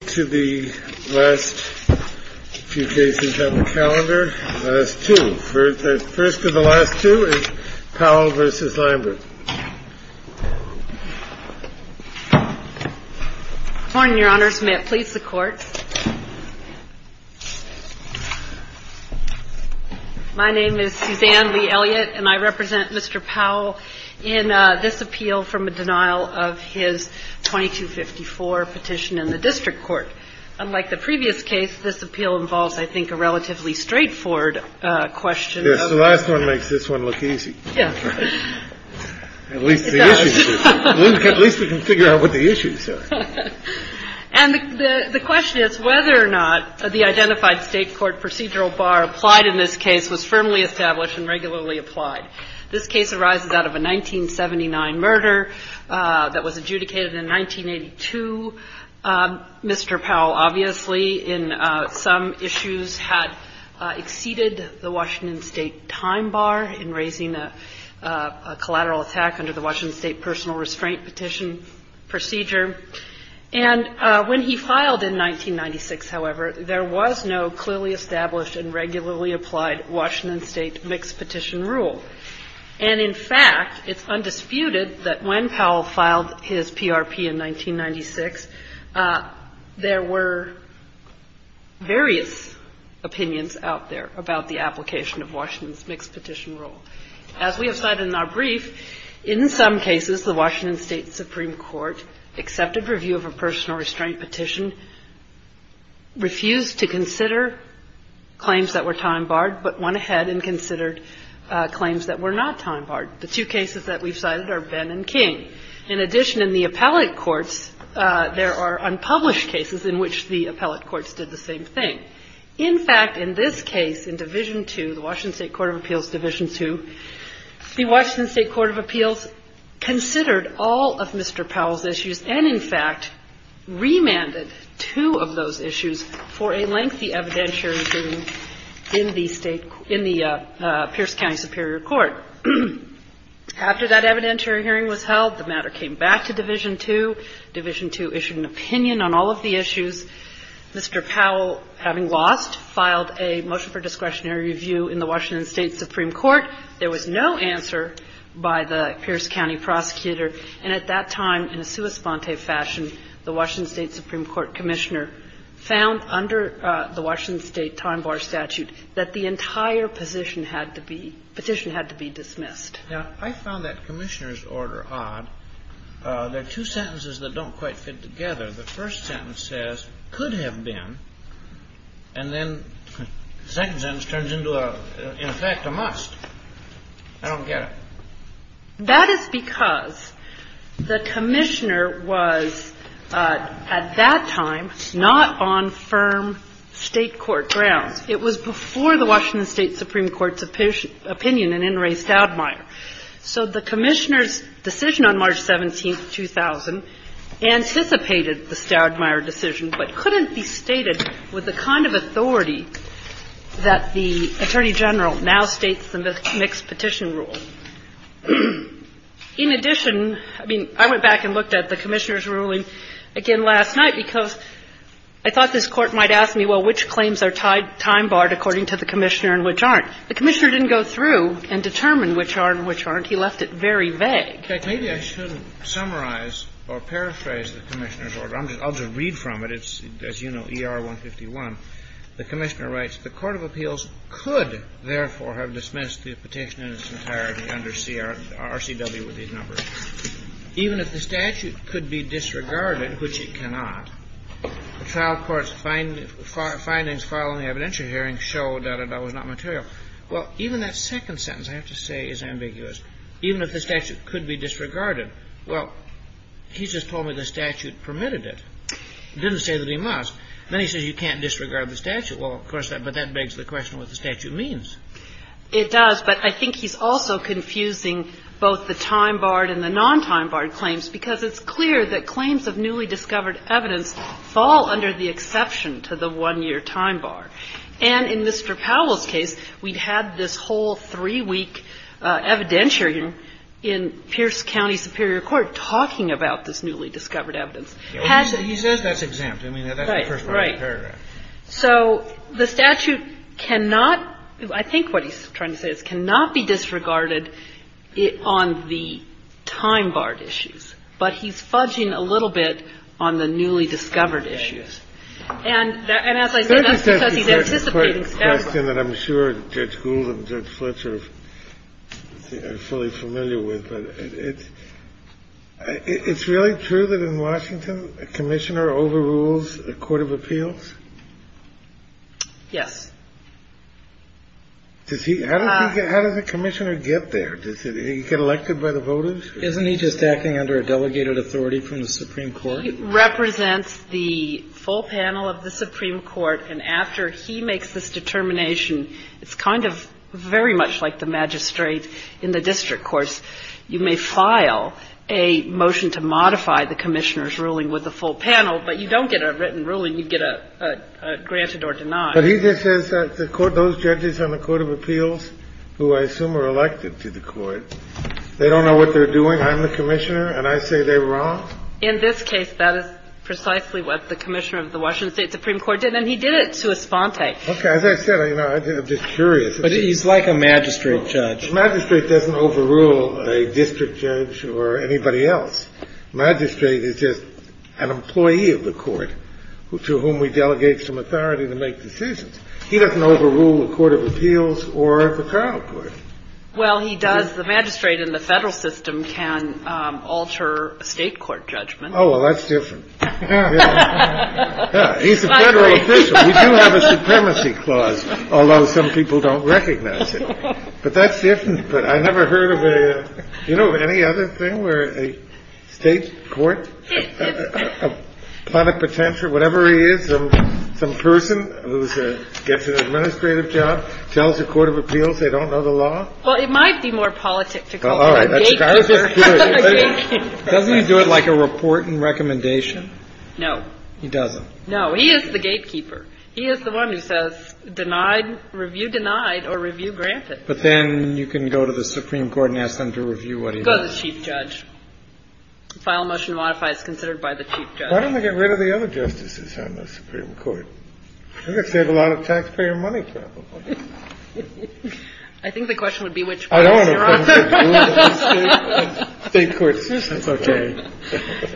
to the last few cases on the calendar, the last two. First of the last two is Powell v. Lambert. Good morning, Your Honors. May it please the Court. My name is Suzanne Lee Elliott, and I represent Mr. Powell in this appeal from a denial of his 2254 petition in the district court. Unlike the previous case, this appeal involves, I think, a relatively straightforward question. Yes, the last one makes this one look easy. Yeah. At least we can figure out what the issues are. And the question is whether or not the identified State court procedural bar applied in this case was firmly established and regularly applied. This case arises out of a 1979 murder that was adjudicated in 1982. Mr. Powell, obviously, in some issues had exceeded the Washington State time bar in raising a collateral attack under the Washington State personal restraint petition procedure. And when he filed in 1996, however, there was no clearly established and regularly applied Washington State mixed petition rule. And in fact, it's undisputed that when Powell filed his PRP in 1996, there were various opinions out there about the application of Washington's mixed petition rule. As we have said in our brief, in some cases, the Washington State Supreme Court accepted review of a personal restraint petition, refused to consider claims that were time barred, but went ahead and considered claims that were not time barred. The two cases that we've cited are Benn and King. In addition, in the appellate courts, there are unpublished cases in which the appellate courts did the same thing. In fact, in this case, in Division II, the Washington State Court of Appeals Division II, the Washington State Court of Appeals considered all of Mr. Powell's issues and, in fact, remanded two of those issues for a lengthy evidentiary hearing in the state – in the Pierce County Superior Court. After that evidentiary hearing was held, the matter came back to Division II. Division II issued an opinion on all of the issues. Mr. Powell, having lost, filed a motion for discretionary review in the Washington State Supreme Court. There was no answer by the Pierce County prosecutor. And at that time, in a sua sponte fashion, the Washington State Supreme Court commissioner found under the Washington State time bar statute that the entire position had to be – petition had to be dismissed. Kennedy. Now, I found that commissioner's order odd. There are two sentences that don't quite fit together. The first sentence says, could have been, and then the second sentence turns into, in effect, a must. I don't get it. That is because the commissioner was, at that time, not on firm state court grounds. It was before the Washington State Supreme Court's opinion in In re Stoudmire. So the commissioner's decision on March 17, 2000, anticipated the Stoudmire decision but couldn't be stated with the kind of authority that the Attorney General now states in the mixed petition rule. In addition, I mean, I went back and looked at the commissioner's ruling again last night because I thought this Court might ask me, well, which claims are time barred according to the commissioner and which aren't. The commissioner didn't go through and determine which are and which aren't. He left it very vague. Kennedy. Maybe I should summarize or paraphrase the commissioner's order. I'll just read from it. It's, as you know, ER-151. The commissioner writes, Even if the statute could be disregarded, which it cannot, the trial court's findings following the evidentiary hearing showed that it was not material. Well, even that second sentence, I have to say, is ambiguous. Even if the statute could be disregarded. Well, he just told me the statute permitted it. He didn't say that he must. Then he says you can't disregard the statute. Well, of course not. But that's what he said. That begs the question what the statute means. It does, but I think he's also confusing both the time barred and the non-time barred claims because it's clear that claims of newly discovered evidence fall under the exception to the one-year time bar. And in Mr. Powell's case, we'd had this whole three-week evidentiary hearing in Pierce County Superior Court talking about this newly discovered evidence. He says that's exempt. I mean, that's the first part of the paragraph. Right. So the statute cannot – I think what he's trying to say is it cannot be disregarded on the time barred issues. But he's fudging a little bit on the newly discovered issues. And as I said, that's because he's anticipating statute. Kennedy. The question that I'm sure Judge Gould and Judge Fletcher are fully familiar with, but it's really true that in Washington a commissioner overrules a court of appeals? Yes. Does he – how does he get – how does a commissioner get there? Does he get elected by the voters? Isn't he just acting under a delegated authority from the Supreme Court? He represents the full panel of the Supreme Court. And after he makes this determination, it's kind of very much like the magistrate in the district courts. You may file a motion to modify the commissioner's ruling with the full panel, but you don't get a written ruling. You get a granted or denied. But he just says that those judges on the court of appeals, who I assume are elected to the court, they don't know what they're doing. I'm the commissioner, and I say they're wrong? In this case, that is precisely what the commissioner of the Washington State Supreme Court did, and he did it to esponte. Okay. As I said, you know, I'm just curious. But he's like a magistrate judge. The magistrate doesn't overrule a district judge or anybody else. The magistrate is just an employee of the court to whom we delegate some authority to make decisions. He doesn't overrule the court of appeals or the trial court. Well, he does. The magistrate in the Federal system can alter a State court judgment. Oh, well, that's different. He's a Federal official. We do have a supremacy clause, although some people don't recognize it. But that's different. But I never heard of a, you know, any other thing where a State court, a plenipotentiary, whatever he is, some person who gets an administrative job, tells the court of appeals they don't know the law? Well, it might be more politic to call him a gatekeeper. Doesn't he do it like a report and recommendation? No. He doesn't. No. He is the gatekeeper. He is the one who says, denied, review denied or review granted. But then you can go to the Supreme Court and ask them to review what he does. Go to the chief judge. File a motion to modify as considered by the chief judge. Why don't they get rid of the other justices on the Supreme Court? I think that would save a lot of taxpayer money travel. I think the question would be which courts you're on. I don't know. State courts, this is okay.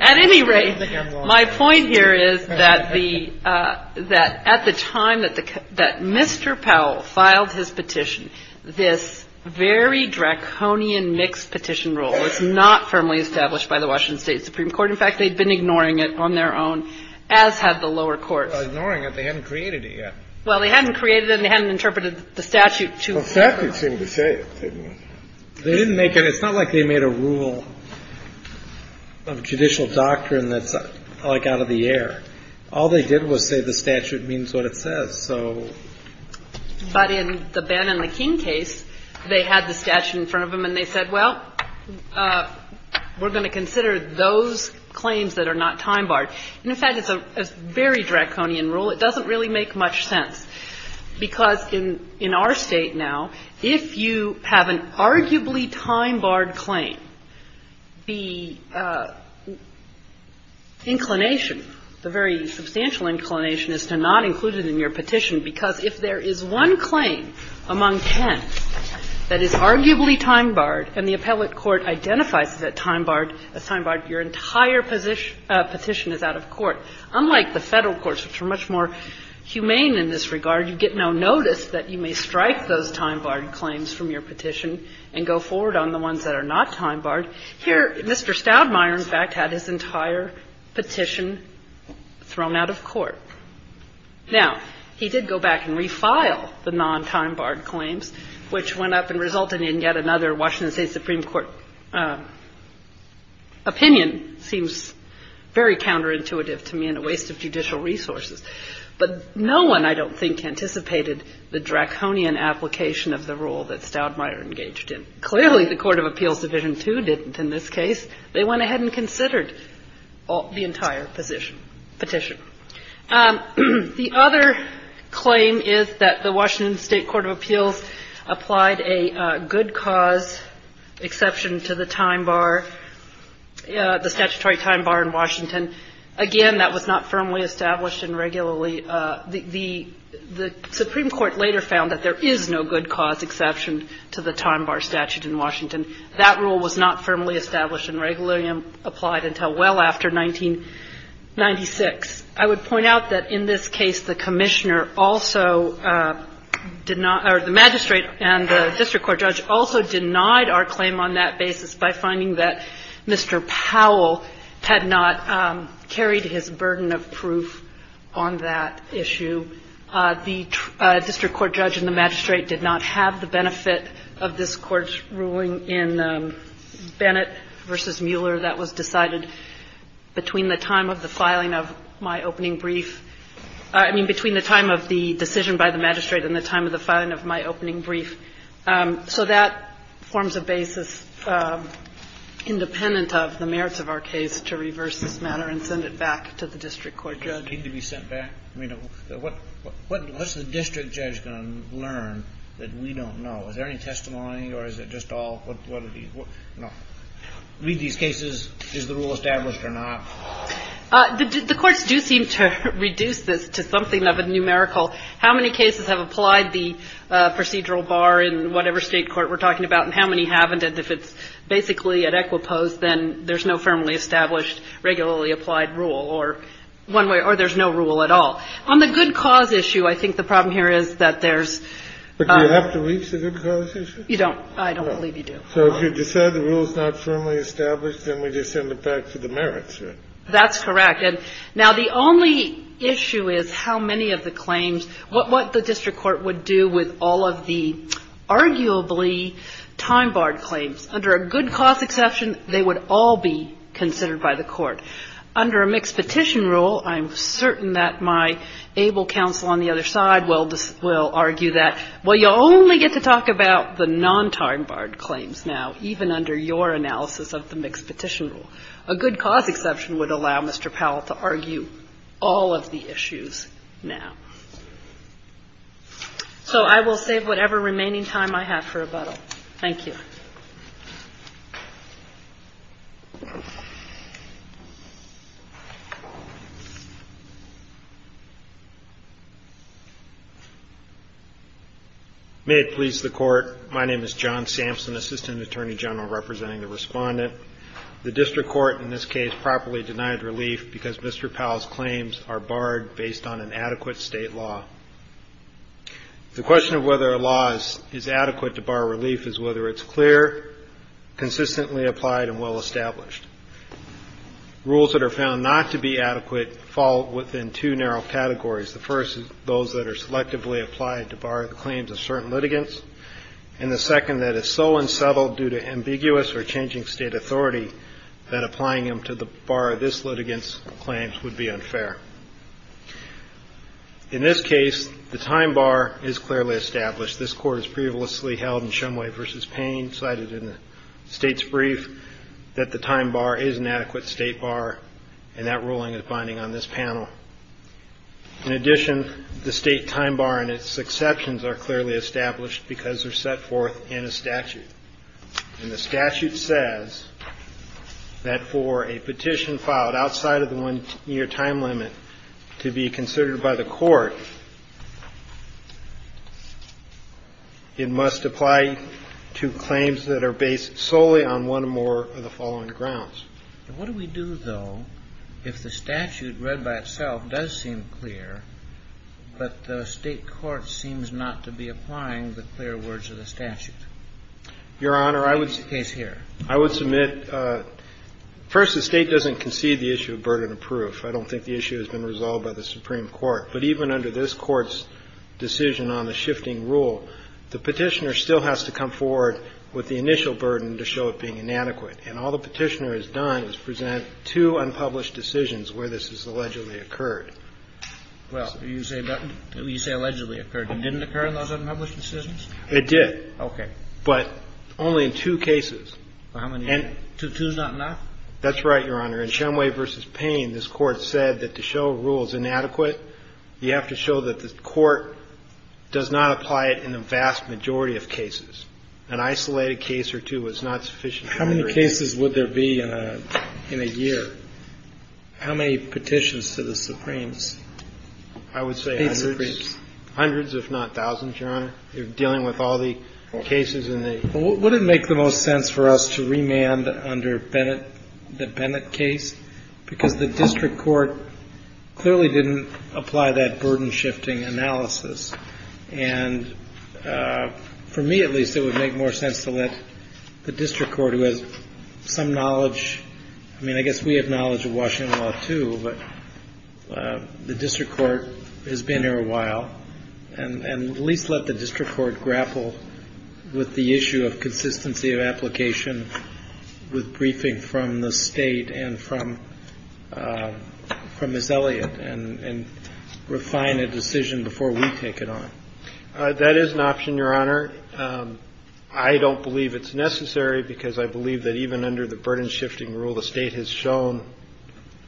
At any rate, my point here is that the at the time that Mr. Powell filed his petition, this very draconian mixed petition rule was not firmly established by the Washington State Supreme Court. In fact, they had been ignoring it on their own, as had the lower courts. Ignoring it? They hadn't created it yet. Well, they hadn't created it and they hadn't interpreted the statute to. The statute seemed to say it. They didn't make it. It's not like they made a rule of judicial doctrine that's like out of the air. All they did was say the statute means what it says. So. But in the Ben and the King case, they had the statute in front of them and they said, well, we're going to consider those claims that are not time-barred. And, in fact, it's a very draconian rule. It doesn't really make much sense, because in our State now, if you have an arguably time-barred claim, the inclination, the very substantial inclination is to not include it in your petition, because if there is one claim among ten that is arguably time-barred and the appellate court identifies it as time-barred, your entire petition is out of court, unlike the Federal courts, which are much more humane in this regard. You get no notice that you may strike those time-barred claims from your petition and go forward on the ones that are not time-barred. Here, Mr. Stoudmire, in fact, had his entire petition thrown out of court. Now, he did go back and refile the non-time-barred claims, which went up and resulted in yet another Washington State Supreme Court opinion. It seems very counterintuitive to me and a waste of judicial resources. But no one, I don't think, anticipated the draconian application of the rule that Stoudmire engaged in. Clearly, the Court of Appeals Division II didn't in this case. They went ahead and considered the entire position, petition. The other claim is that the Washington State Court of Appeals applied a good cause exception to the time bar, the statutory time bar in Washington. Again, that was not firmly established and regularly the Supreme Court later found that there is no good cause exception to the time bar statute in Washington. That rule was not firmly established and regularly applied until well after 1996. I would point out that in this case the commissioner also did not or the magistrate and the district court judge also denied our claim on that basis by finding that Mr. Powell had not carried his burden of proof on that issue. The district court judge and the magistrate did not have the benefit of this Court's ruling in Bennett v. Mueller that was decided between the time of the filing of my opening brief – I mean between the time of the decision by the magistrate and the time of the filing of my opening brief. So that forms a basis independent of the merits of our case to reverse this matter and send it back to the district court judge. Kennedy. Did it need to be sent back? I mean, what's the district judge going to learn that we don't know? Is there any testimony or is it just all, you know, read these cases, is the rule established or not? The courts do seem to reduce this to something of a numerical. How many cases have applied the procedural bar in whatever State court we're talking about and how many haven't? If it's independent, if it's basically at equiposed, then there's no firmly established regularly applied rule or there's no rule at all. On the good cause issue, I think the problem here is that there's – But do you have to reach the good cause issue? You don't. I don't believe you do. So if you decide the rule's not firmly established, then we just send it back to the merits, right? That's correct. Now, the only issue is how many of the claims – what the district court would do with all of the arguably time-barred claims. Under a good cause exception, they would all be considered by the court. Under a mixed petition rule, I'm certain that my able counsel on the other side will argue that, well, you'll only get to talk about the non-time-barred claims now, even under your analysis of the mixed petition rule. A good cause exception would allow Mr. Powell to argue all of the issues now. So I will save whatever remaining time I have for rebuttal. Thank you. May it please the Court. My name is John Sampson, Assistant Attorney General, representing the respondent. The district court in this case properly denied relief because Mr. Powell's claims are The question of whether a law is adequate to bar relief is whether it's clear, consistently applied, and well-established. Rules that are found not to be adequate fall within two narrow categories. The first is those that are selectively applied to bar the claims of certain litigants, and the second, that it's so unsettled due to ambiguous or changing state authority that applying them to bar this litigant's claims would be unfair. In this case, the time bar is clearly established. This Court has previously held in Shumway v. Payne, cited in the State's brief, that the time bar is an adequate state bar, and that ruling is binding on this panel. In addition, the state time bar and its exceptions are clearly established because they're set forth in a statute. And the statute says that for a petition filed outside of the one-year time limit to be considered by the court, it must apply to claims that are based solely on one or more of the following grounds. What do we do, though, if the statute read by itself does seem clear, but the state court seems not to be applying the clear words of the statute? Your Honor, I would submit the case here. I would submit, first, the State doesn't concede the issue of burden of proof. I don't think the issue has been resolved by the Supreme Court. But even under this Court's decision on the shifting rule, the Petitioner still has to come forward with the initial burden to show it being inadequate. And all the Petitioner has done is present two unpublished decisions where this has allegedly occurred. Well, you say allegedly occurred. It didn't occur in those unpublished decisions? It did. Okay. But only in two cases. How many? Two is not enough? That's right, Your Honor. In Shumway v. Payne, this Court said that to show a rule is inadequate, you have to show that the Court does not apply it in the vast majority of cases. An isolated case or two is not sufficient. How many cases would there be in a year? How many petitions to the Supremes? I would say hundreds. Eight Supremes. Hundreds, if not thousands, Your Honor, dealing with all the cases in the ---- Well, would it make the most sense for us to remand under Bennett, the Bennett case? Because the district court clearly didn't apply that burden-shifting analysis. And for me, at least, it would make more sense to let the district court, who has some knowledge of Washington law, too, but the district court has been here a while, and at least let the district court grapple with the issue of consistency of application with briefing from the state and from Ms. Elliott and refine a decision before we take it on. That is an option, Your Honor. Your Honor, I don't believe it's necessary because I believe that even under the burden-shifting rule, the state has shown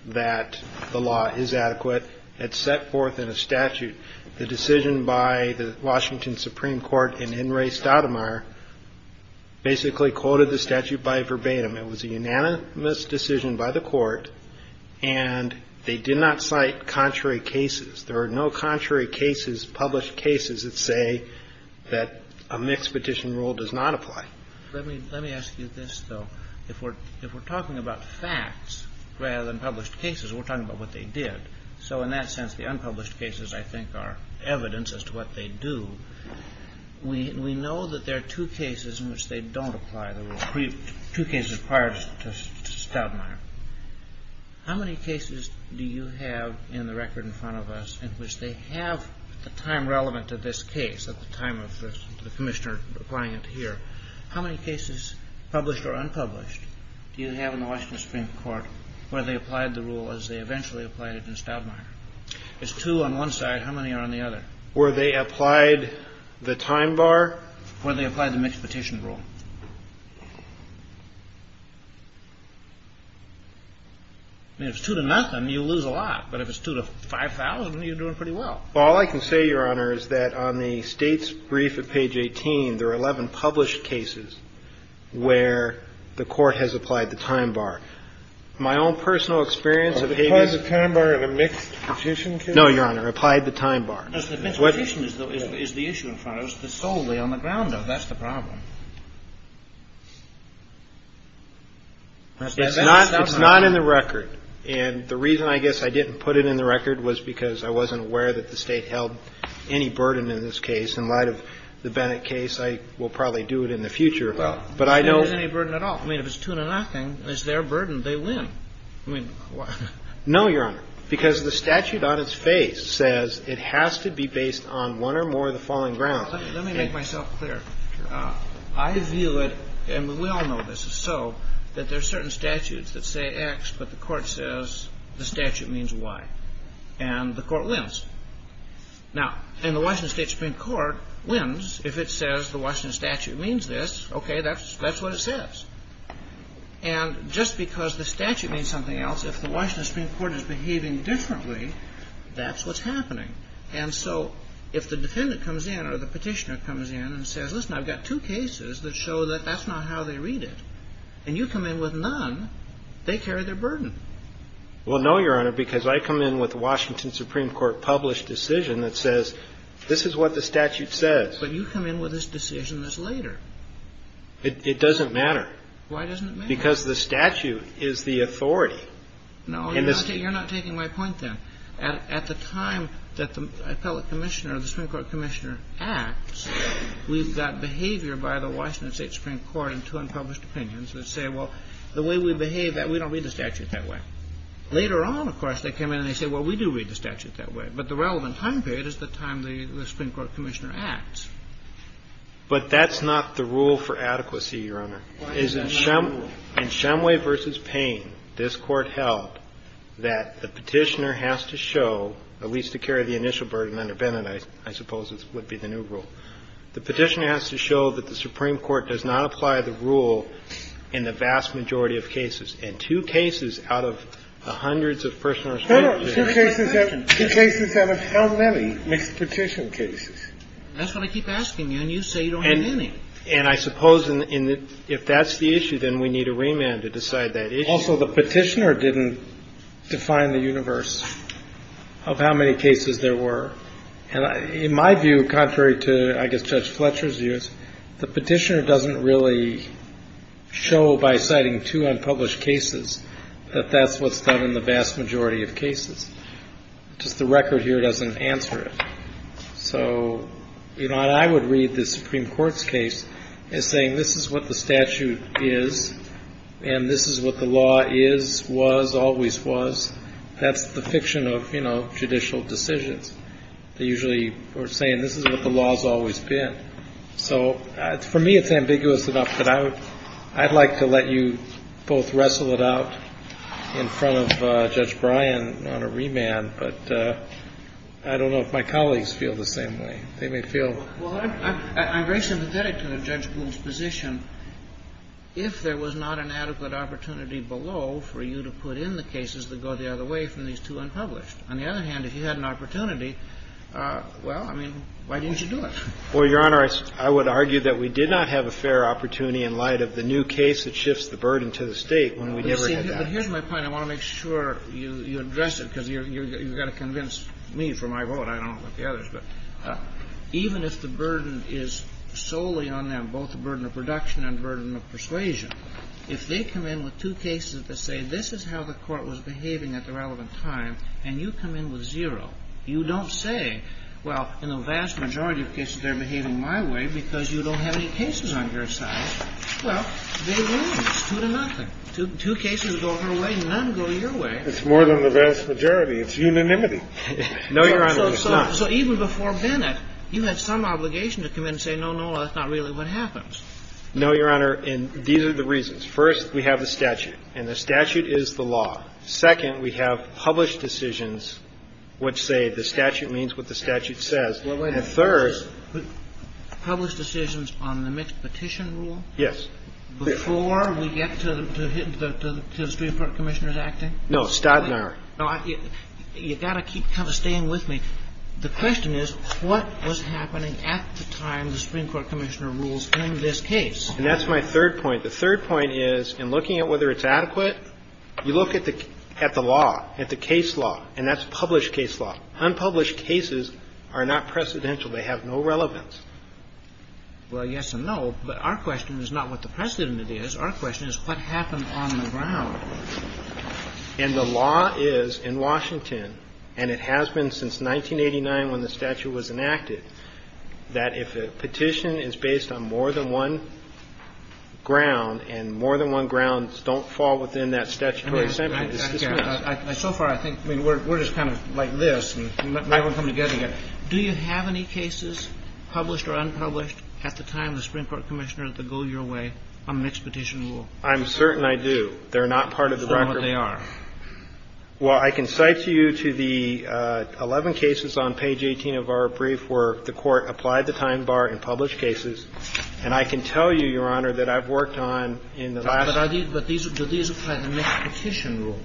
that the law is adequate. It's set forth in a statute. The decision by the Washington Supreme Court in In Re Stoudemire basically quoted the statute by verbatim. It was a unanimous decision by the Court, and they did not cite contrary cases. There are no contrary cases, published cases that say that a mixed petition rule does not apply. Let me ask you this, though. If we're talking about facts rather than published cases, we're talking about what they did. So in that sense, the unpublished cases, I think, are evidence as to what they do. We know that there are two cases in which they don't apply the rule, two cases prior to Stoudemire. How many cases do you have in the record in front of us in which they have, at the time relevant to this case, at the time of the Commissioner applying it here, how many cases, published or unpublished, do you have in the Washington Supreme Court where they applied the rule as they eventually applied it in Stoudemire? It's two on one side. How many are on the other? Three. Three on one side. Three on one side. And how many cases were they applied the time bar? When they applied the mixed petition rule. I mean, if it's two to nothing, you lose a lot. But if it's two to 5,000, you're doing pretty well. All I can say, Your Honor, is that on the States Brief at page 18, there are 11 published cases where the court has applied the time bar. My own personal experience of having... Applied the time bar in a mixed petition case? No, Your Honor. Applied the time bar. The mixed petition is the issue, in fact. It's solely on the ground, though. That's the problem. It's not in the record. And the reason, I guess, I didn't put it in the record was because I wasn't aware that the State held any burden in this case. In light of the Bennett case, I will probably do it in the future. But I know... There isn't any burden at all. I mean, if it's two to nothing, it's their burden. They win. I mean... No, Your Honor. Because the statute on its face says it has to be based on one or more of the falling grounds. Let me make myself clear. I view it, and we all know this is so, that there are certain statutes that say X, but the Court says the statute means Y. And the Court wins. Now, and the Washington State Supreme Court wins if it says the Washington statute means this. Okay, that's what it says. And just because the statute means something else, if the Washington Supreme Court is behaving differently, that's what's happening. And so if the defendant comes in or the petitioner comes in and says, listen, I've got two cases that show that that's not how they read it, and you come in with none, they carry their burden. Well, no, Your Honor, because I come in with a Washington Supreme Court published decision that says, this is what the statute says. But you come in with this decision that's later. It doesn't matter. Why doesn't it matter? Because the statute is the authority. No, you're not taking my point then. At the time that the appellate commissioner or the Supreme Court commissioner acts, we've got behavior by the Washington State Supreme Court in two unpublished opinions that say, well, the way we behave, we don't read the statute that way. Later on, of course, they come in and they say, well, we do read the statute that way. But the relevant time period is the time the Supreme Court commissioner acts. But that's not the rule for adequacy, Your Honor. Why is that not the rule? In Shumway v. Payne, this Court held that the petitioner has to show, at least to carry the initial burden under Bennett, I suppose, would be the new rule. The petitioner has to show that the Supreme Court does not apply the rule in the vast majority of cases. In two cases out of the hundreds of personal respect cases. Two cases out of how many mixed petition cases? That's what I keep asking you, and you say you don't have any. And I suppose if that's the issue, then we need a remand to decide that issue. Also, the petitioner didn't define the universe of how many cases there were. And in my view, contrary to, I guess, Judge Fletcher's views, the petitioner doesn't really show by citing two unpublished cases that that's what's done in the vast majority of cases. Just the record here doesn't answer it. So, you know, and I would read the Supreme Court's case as saying this is what the statute is, and this is what the law is, was, always was. That's the fiction of, you know, judicial decisions. They usually are saying this is what the law has always been. So for me, it's ambiguous enough that I would ‑‑ I'd like to let you both wrestle it out in front of Judge Bryan on a remand, but I don't know if my colleagues feel the same way. They may feel ‑‑ Well, I'm very sympathetic to Judge Gould's position. If there was not an adequate opportunity below for you to put in the cases that go the other way from these two unpublished. On the other hand, if you had an opportunity, well, I mean, why didn't you do it? Well, Your Honor, I would argue that we did not have a fair opportunity in light of the new case that shifts the burden to the State when we never had that. But here's my point. I want to make sure you address it because you've got to convince me for my vote. I don't know about the others. But even if the burden is solely on them, both the burden of production and burden of persuasion, if they come in with two cases that say this is how the Court was behaving at the relevant time, and you come in with zero, you don't say, well, in the vast majority of cases they're behaving my way because you don't have any cases on your side. Well, they lose, two to nothing. Two cases go her way, none go your way. It's more than the vast majority. It's unanimity. No, Your Honor, it's not. So even before Bennett, you had some obligation to come in and say, no, no, that's not really what happens. No, Your Honor, and these are the reasons. First, we have the statute, and the statute is the law. Second, we have published decisions, which say the statute means what the statute says. And third ---- Published decisions on the mixed petition rule? Yes. Before we get to the Supreme Court Commissioner's acting? No. You've got to keep kind of staying with me. The question is, what was happening at the time the Supreme Court Commissioner rules in this case? And that's my third point. The third point is, in looking at whether it's adequate, you look at the law, at the case law, and that's published case law. Unpublished cases are not precedential. They have no relevance. Well, yes and no, but our question is not what the precedent is. Our question is, what happened on the ground? And the law is, in Washington, and it has been since 1989 when the statute was enacted, that if a petition is based on more than one ground, and more than one ground don't fall within that statutory assent, it's dismissed. So far, I think we're just kind of like this, and now we're coming together again. Do you have any cases, published or unpublished, at the time the Supreme Court Commissioner had to go your way on mixed petition rule? I'm certain I do. They're not part of the record. So what they are? Well, I can cite to you to the 11 cases on page 18 of our brief where the Court applied the time bar in published cases, and I can tell you, Your Honor, that I've worked on in the last year. But do these apply to mixed petition rule?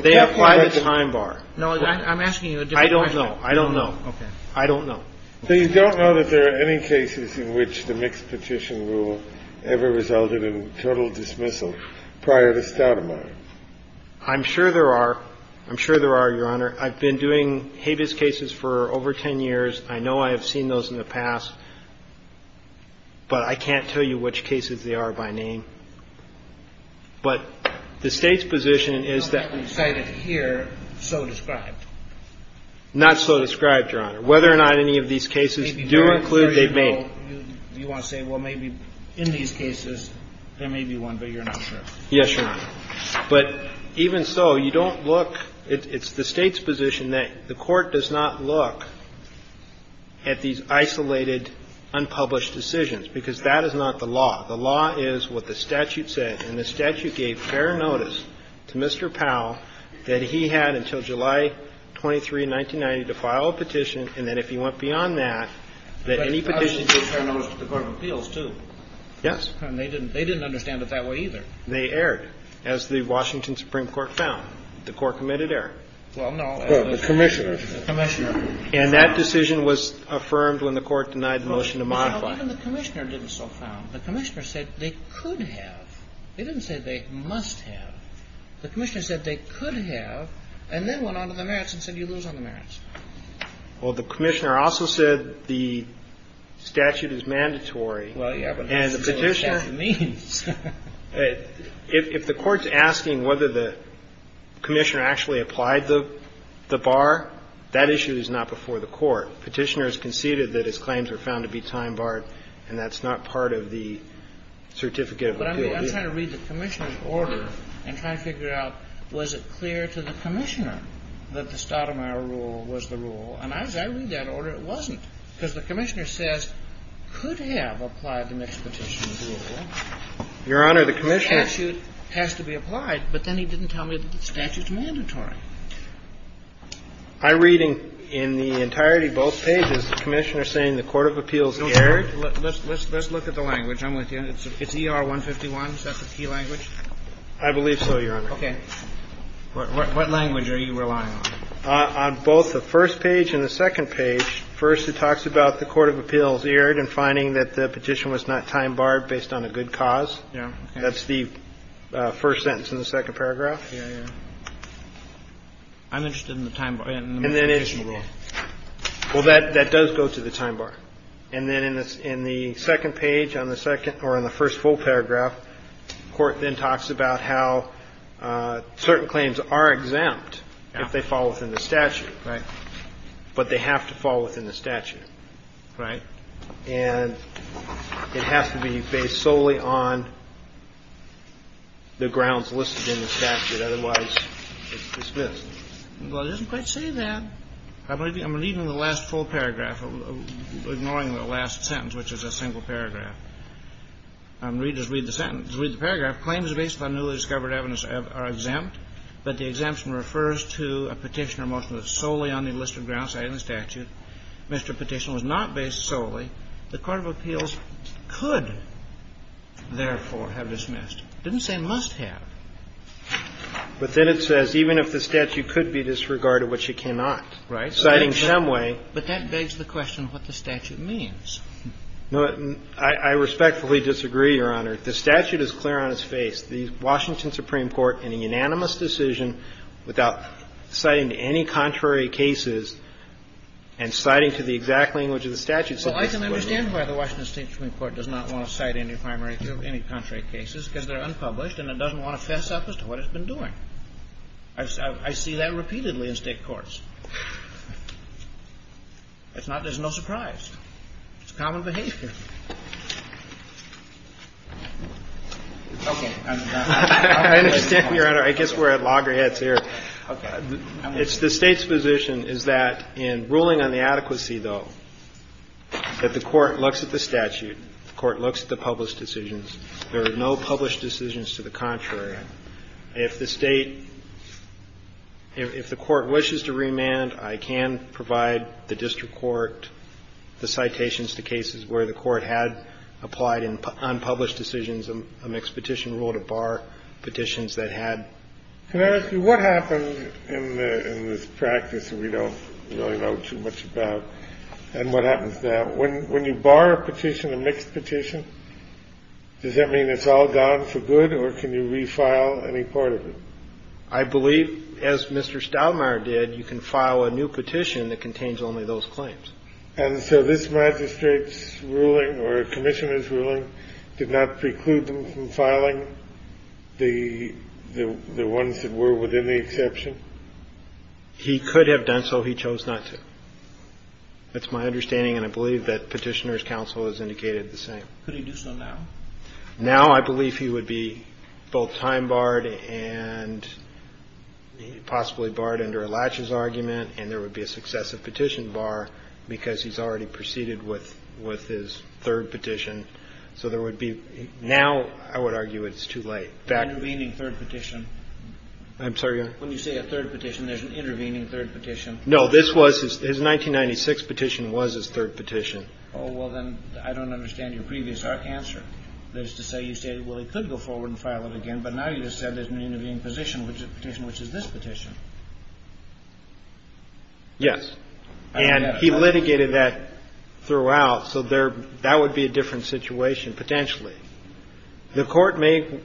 They apply the time bar. No, I'm asking you a different question. I don't know. I don't know. Okay. I don't know. So you don't know that there are any cases in which the mixed petition rule ever applies? I'm sure there are. I'm sure there are, Your Honor. I've been doing habeas cases for over 10 years. I know I have seen those in the past. But I can't tell you which cases they are by name. But the State's position is that we cited here so described. Not so described, Your Honor. Whether or not any of these cases do include, they may. You want to say, well, maybe in these cases, there may be one, but you're not sure. Yes, Your Honor. But even so, you don't look. It's the State's position that the Court does not look at these isolated, unpublished decisions, because that is not the law. The law is what the statute says. And the statute gave fair notice to Mr. Powell that he had until July 23, 1990, to file a petition. And then if he went beyond that, that any petition would be fair notice to the Court of Appeals, too. Yes. And they didn't understand it that way, either. They erred, as the Washington Supreme Court found. The Court committed error. Well, no. Well, the Commissioner. The Commissioner. And that decision was affirmed when the Court denied the motion to modify it. Well, even the Commissioner didn't so sound. The Commissioner said they could have. They didn't say they must have. The Commissioner said they could have, and then went on to the merits and said you lose on the merits. Well, the Commissioner also said the statute is mandatory. Well, yeah, but that's what the statute means. If the Court's asking whether the Commissioner actually applied the bar, that issue is not before the Court. Petitioners conceded that his claims were found to be time-barred, and that's not part of the certificate of appeal. But I'm trying to read the Commissioner's order and try to figure out, was it clear to the Commissioner that the Stoudemire rule was the rule? And as I read that order, it wasn't. Because the Commissioner says could have applied the mixed petitions rule. Your Honor, the Commissioner. The statute has to be applied, but then he didn't tell me that the statute's mandatory. I'm reading in the entirety of both pages the Commissioner saying the court of appeals erred. Let's look at the language. I'm with you. It's ER-151. Is that the key language? I believe so, Your Honor. Okay. What language are you relying on? On both the first page and the second page, first it talks about the court of appeals erred in finding that the petition was not time-barred based on a good cause. Yeah. That's the first sentence in the second paragraph. Yeah, yeah. I'm interested in the time-barred and the mixed petition rule. Well, that does go to the time-barred. And then in the second page on the second or on the first full paragraph, the Court then talks about how certain claims are exempt if they fall within the statute. Right. But they have to fall within the statute. Right. And it has to be based solely on the grounds listed in the statute. Otherwise, it's dismissed. Well, it doesn't quite say that. I'm reading the last full paragraph, ignoring the last sentence, which is a single paragraph. Read the sentence. Read the paragraph. Claims based on newly discovered evidence are exempt. But the exemption refers to a petition or motion that's solely on the listed grounds cited in the statute. Mr. Petitioner was not based solely. The court of appeals could, therefore, have dismissed. It didn't say must have. But then it says even if the statute could be disregarded, which it cannot. Right. Citing Shemway. But that begs the question of what the statute means. No. I respectfully disagree, Your Honor. The statute is clear on its face. The Washington Supreme Court, in a unanimous decision without citing any contrary cases and citing to the exact language of the statute, said that Shemway was exempt. Well, I can understand why the Washington State Supreme Court does not want to cite any primary case, any contrary cases, because they're unpublished and it doesn't want to fess up as to what it's been doing. I see that repeatedly in State courts. It's not as no surprise. It's common behavior. Okay. I understand, Your Honor. I guess we're at loggerheads here. Okay. It's the State's position is that in ruling on the adequacy, though, that the court looks at the statute, the court looks at the published decisions. There are no published decisions to the contrary. If the State – if the court wishes to remand, I can provide the district court with the citations to cases where the court had applied unpublished decisions, a mixed petition rule to bar petitions that had. Can I ask you what happened in this practice that we don't really know too much about and what happens now? When you bar a petition, a mixed petition, does that mean it's all gone for good or can you refile any part of it? I believe, as Mr. Stoudemire did, you can file a new petition that contains only those claims. And so this magistrate's ruling or commissioner's ruling did not preclude them from filing the ones that were within the exception? He could have done so. He chose not to. That's my understanding, and I believe that Petitioner's counsel has indicated the same. Could he do so now? Now I believe he would be both time-barred and possibly barred under a latches argument, and there would be a successive petition bar because he's already proceeded with his third petition. So there would be now I would argue it's too late. Intervening third petition. I'm sorry? When you say a third petition, there's an intervening third petition. No, this was his 1996 petition was his third petition. Oh, well, then I don't understand your previous answer. That is to say you say, well, he could go forward and file it again, but now you just said there's an intervening petition, which is this petition. Yes. And he litigated that throughout, so there that would be a different situation potentially. The Court may be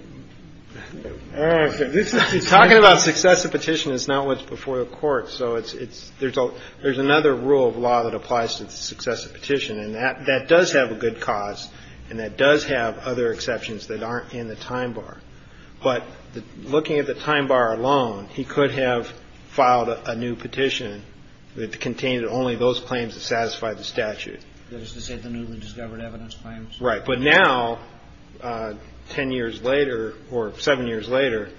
talking about successive petition is not what's before the Court, so it's there's a there's another rule of law that applies to successive petition, and that that does have a good cause, and that does have other exceptions that aren't in the time bar. But looking at the time bar alone, he could have filed a new petition that contained only those claims that satisfy the statute. That is to say the newly discovered evidence claims. Right. But now 10 years later or 7 years later,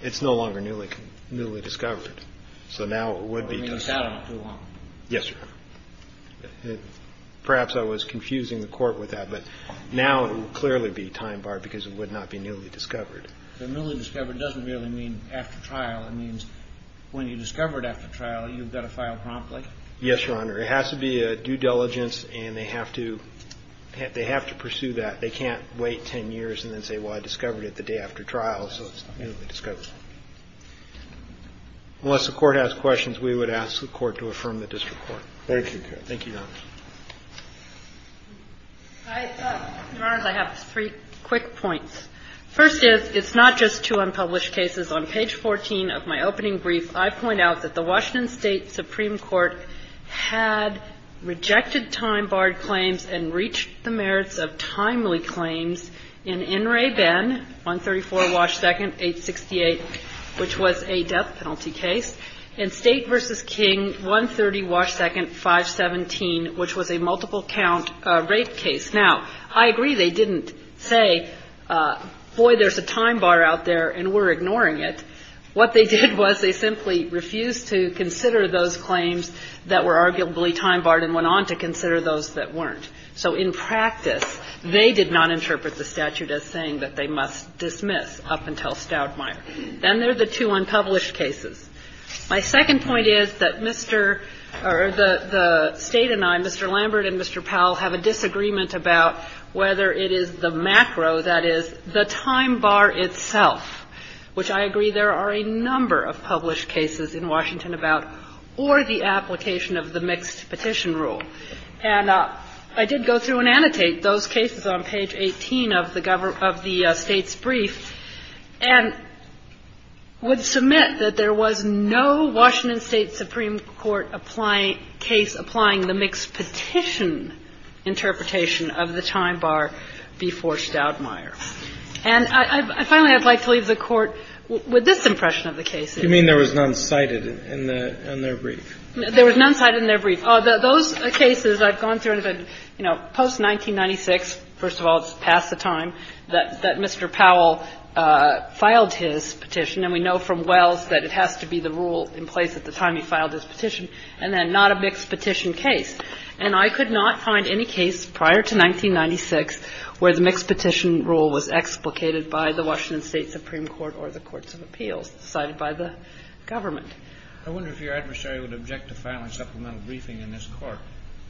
it's no longer newly newly discovered. So now it would be. I mean, he sat on it for a long time. Yes, Your Honor. Perhaps I was confusing the Court with that, but now it would clearly be time bar because it would not be newly discovered. The newly discovered doesn't really mean after trial. It means when you discover it after trial, you've got to file promptly. Yes, Your Honor. It has to be a due diligence, and they have to they have to pursue that. They can't wait 10 years and then say, well, I discovered it the day after trial, so it's newly discovered. Unless the Court has questions, we would ask the Court to affirm the district Thank you. Thank you, Your Honor. I have three quick points. First is, it's not just two unpublished cases. On page 14 of my opening brief, I point out that the Washington State Supreme Court had rejected time-barred claims and reached the merits of timely claims in In Re Ben, 134 Wash 2nd, 868, which was a death penalty case, and State v. King, 130 Wash 2nd, 517, which was a multiple count rape case. Now, I agree they didn't say, boy, there's a time bar out there and we're ignoring it. What they did was they simply refused to consider those claims that were arguably time-barred and went on to consider those that weren't. So in practice, they did not interpret the statute as saying that they must dismiss up until Stoudmire. Then there are the two unpublished cases. My second point is that Mr. or the State and I, Mr. Lambert and Mr. Powell, have a disagreement about whether it is the macro, that is, the time bar itself, which I agree there are a number of published cases in Washington about or the application of the mixed petition rule. And I did go through and annotate those cases on page 18 of the State's brief and would submit that there was no Washington State supreme court case applying the mixed petition interpretation of the time bar before Stoudmire. And I finally would like to leave the Court with this impression of the cases. You mean there was none cited in their brief? There was none cited in their brief. Those cases I've gone through, you know, post-1996, first of all, it's past the time, that Mr. Powell filed his petition. And we know from Wells that it has to be the rule in place at the time he filed his petition, and then not a mixed petition case. And I could not find any case prior to 1996 where the mixed petition rule was explicated by the Washington State supreme court or the courts of appeals cited by the government. I wonder if your adversary would object to filing supplemental briefing in this Court.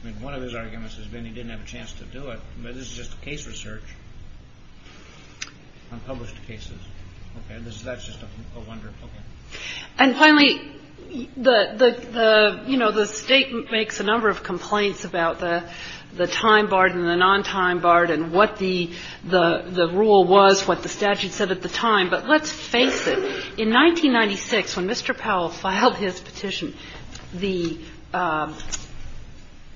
I mean, one of his arguments has been he didn't have a chance to do it, but this is just case research on published cases. Okay. That's just a wonder. Okay. And finally, you know, the State makes a number of complaints about the time bar and the non-time bar and what the rule was, what the statute said at the time. But let's face it. In 1996, when Mr. Powell filed his petition, the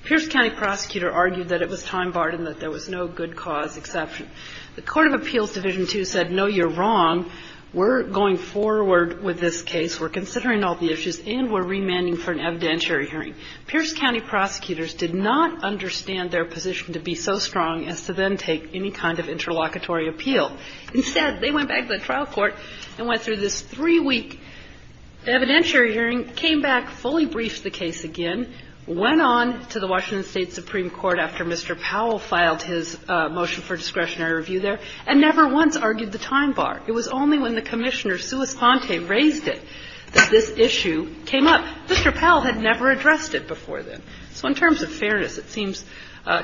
Pierce County prosecutor argued that it was time barred and that there was no good cause exception. The Court of Appeals Division II said, no, you're wrong. We're going forward with this case. We're considering all the issues, and we're remanding for an evidentiary hearing. Pierce County prosecutors did not understand their position to be so strong as to then take any kind of interlocutory appeal. Instead, they went back to the trial court and went through this three-week evidentiary hearing, came back, fully briefed the case again, went on to the Washington State Supreme Court after Mr. Powell filed his motion for discretionary review there, and never once argued the time bar. It was only when the Commissioner, Suis Ponte, raised it that this issue came up. Mr. Powell had never addressed it before then. So in terms of fairness, it seems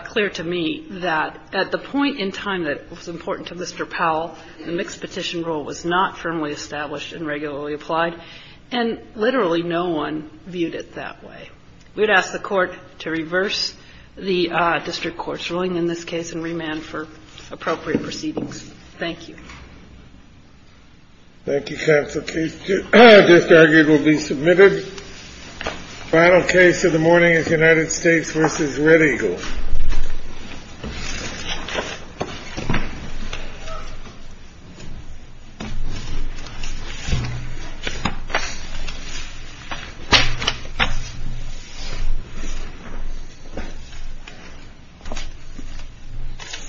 clear to me that at the point in time that it was important to Mr. Powell, the mixed petition rule was not firmly established and regularly applied, and literally no one viewed it that way. We would ask the Court to reverse the district court's ruling in this case and remand for appropriate proceedings. Thank you. Thank you, Counsel. The case just argued will be submitted. The final case of the morning is United States v. Red Eagle.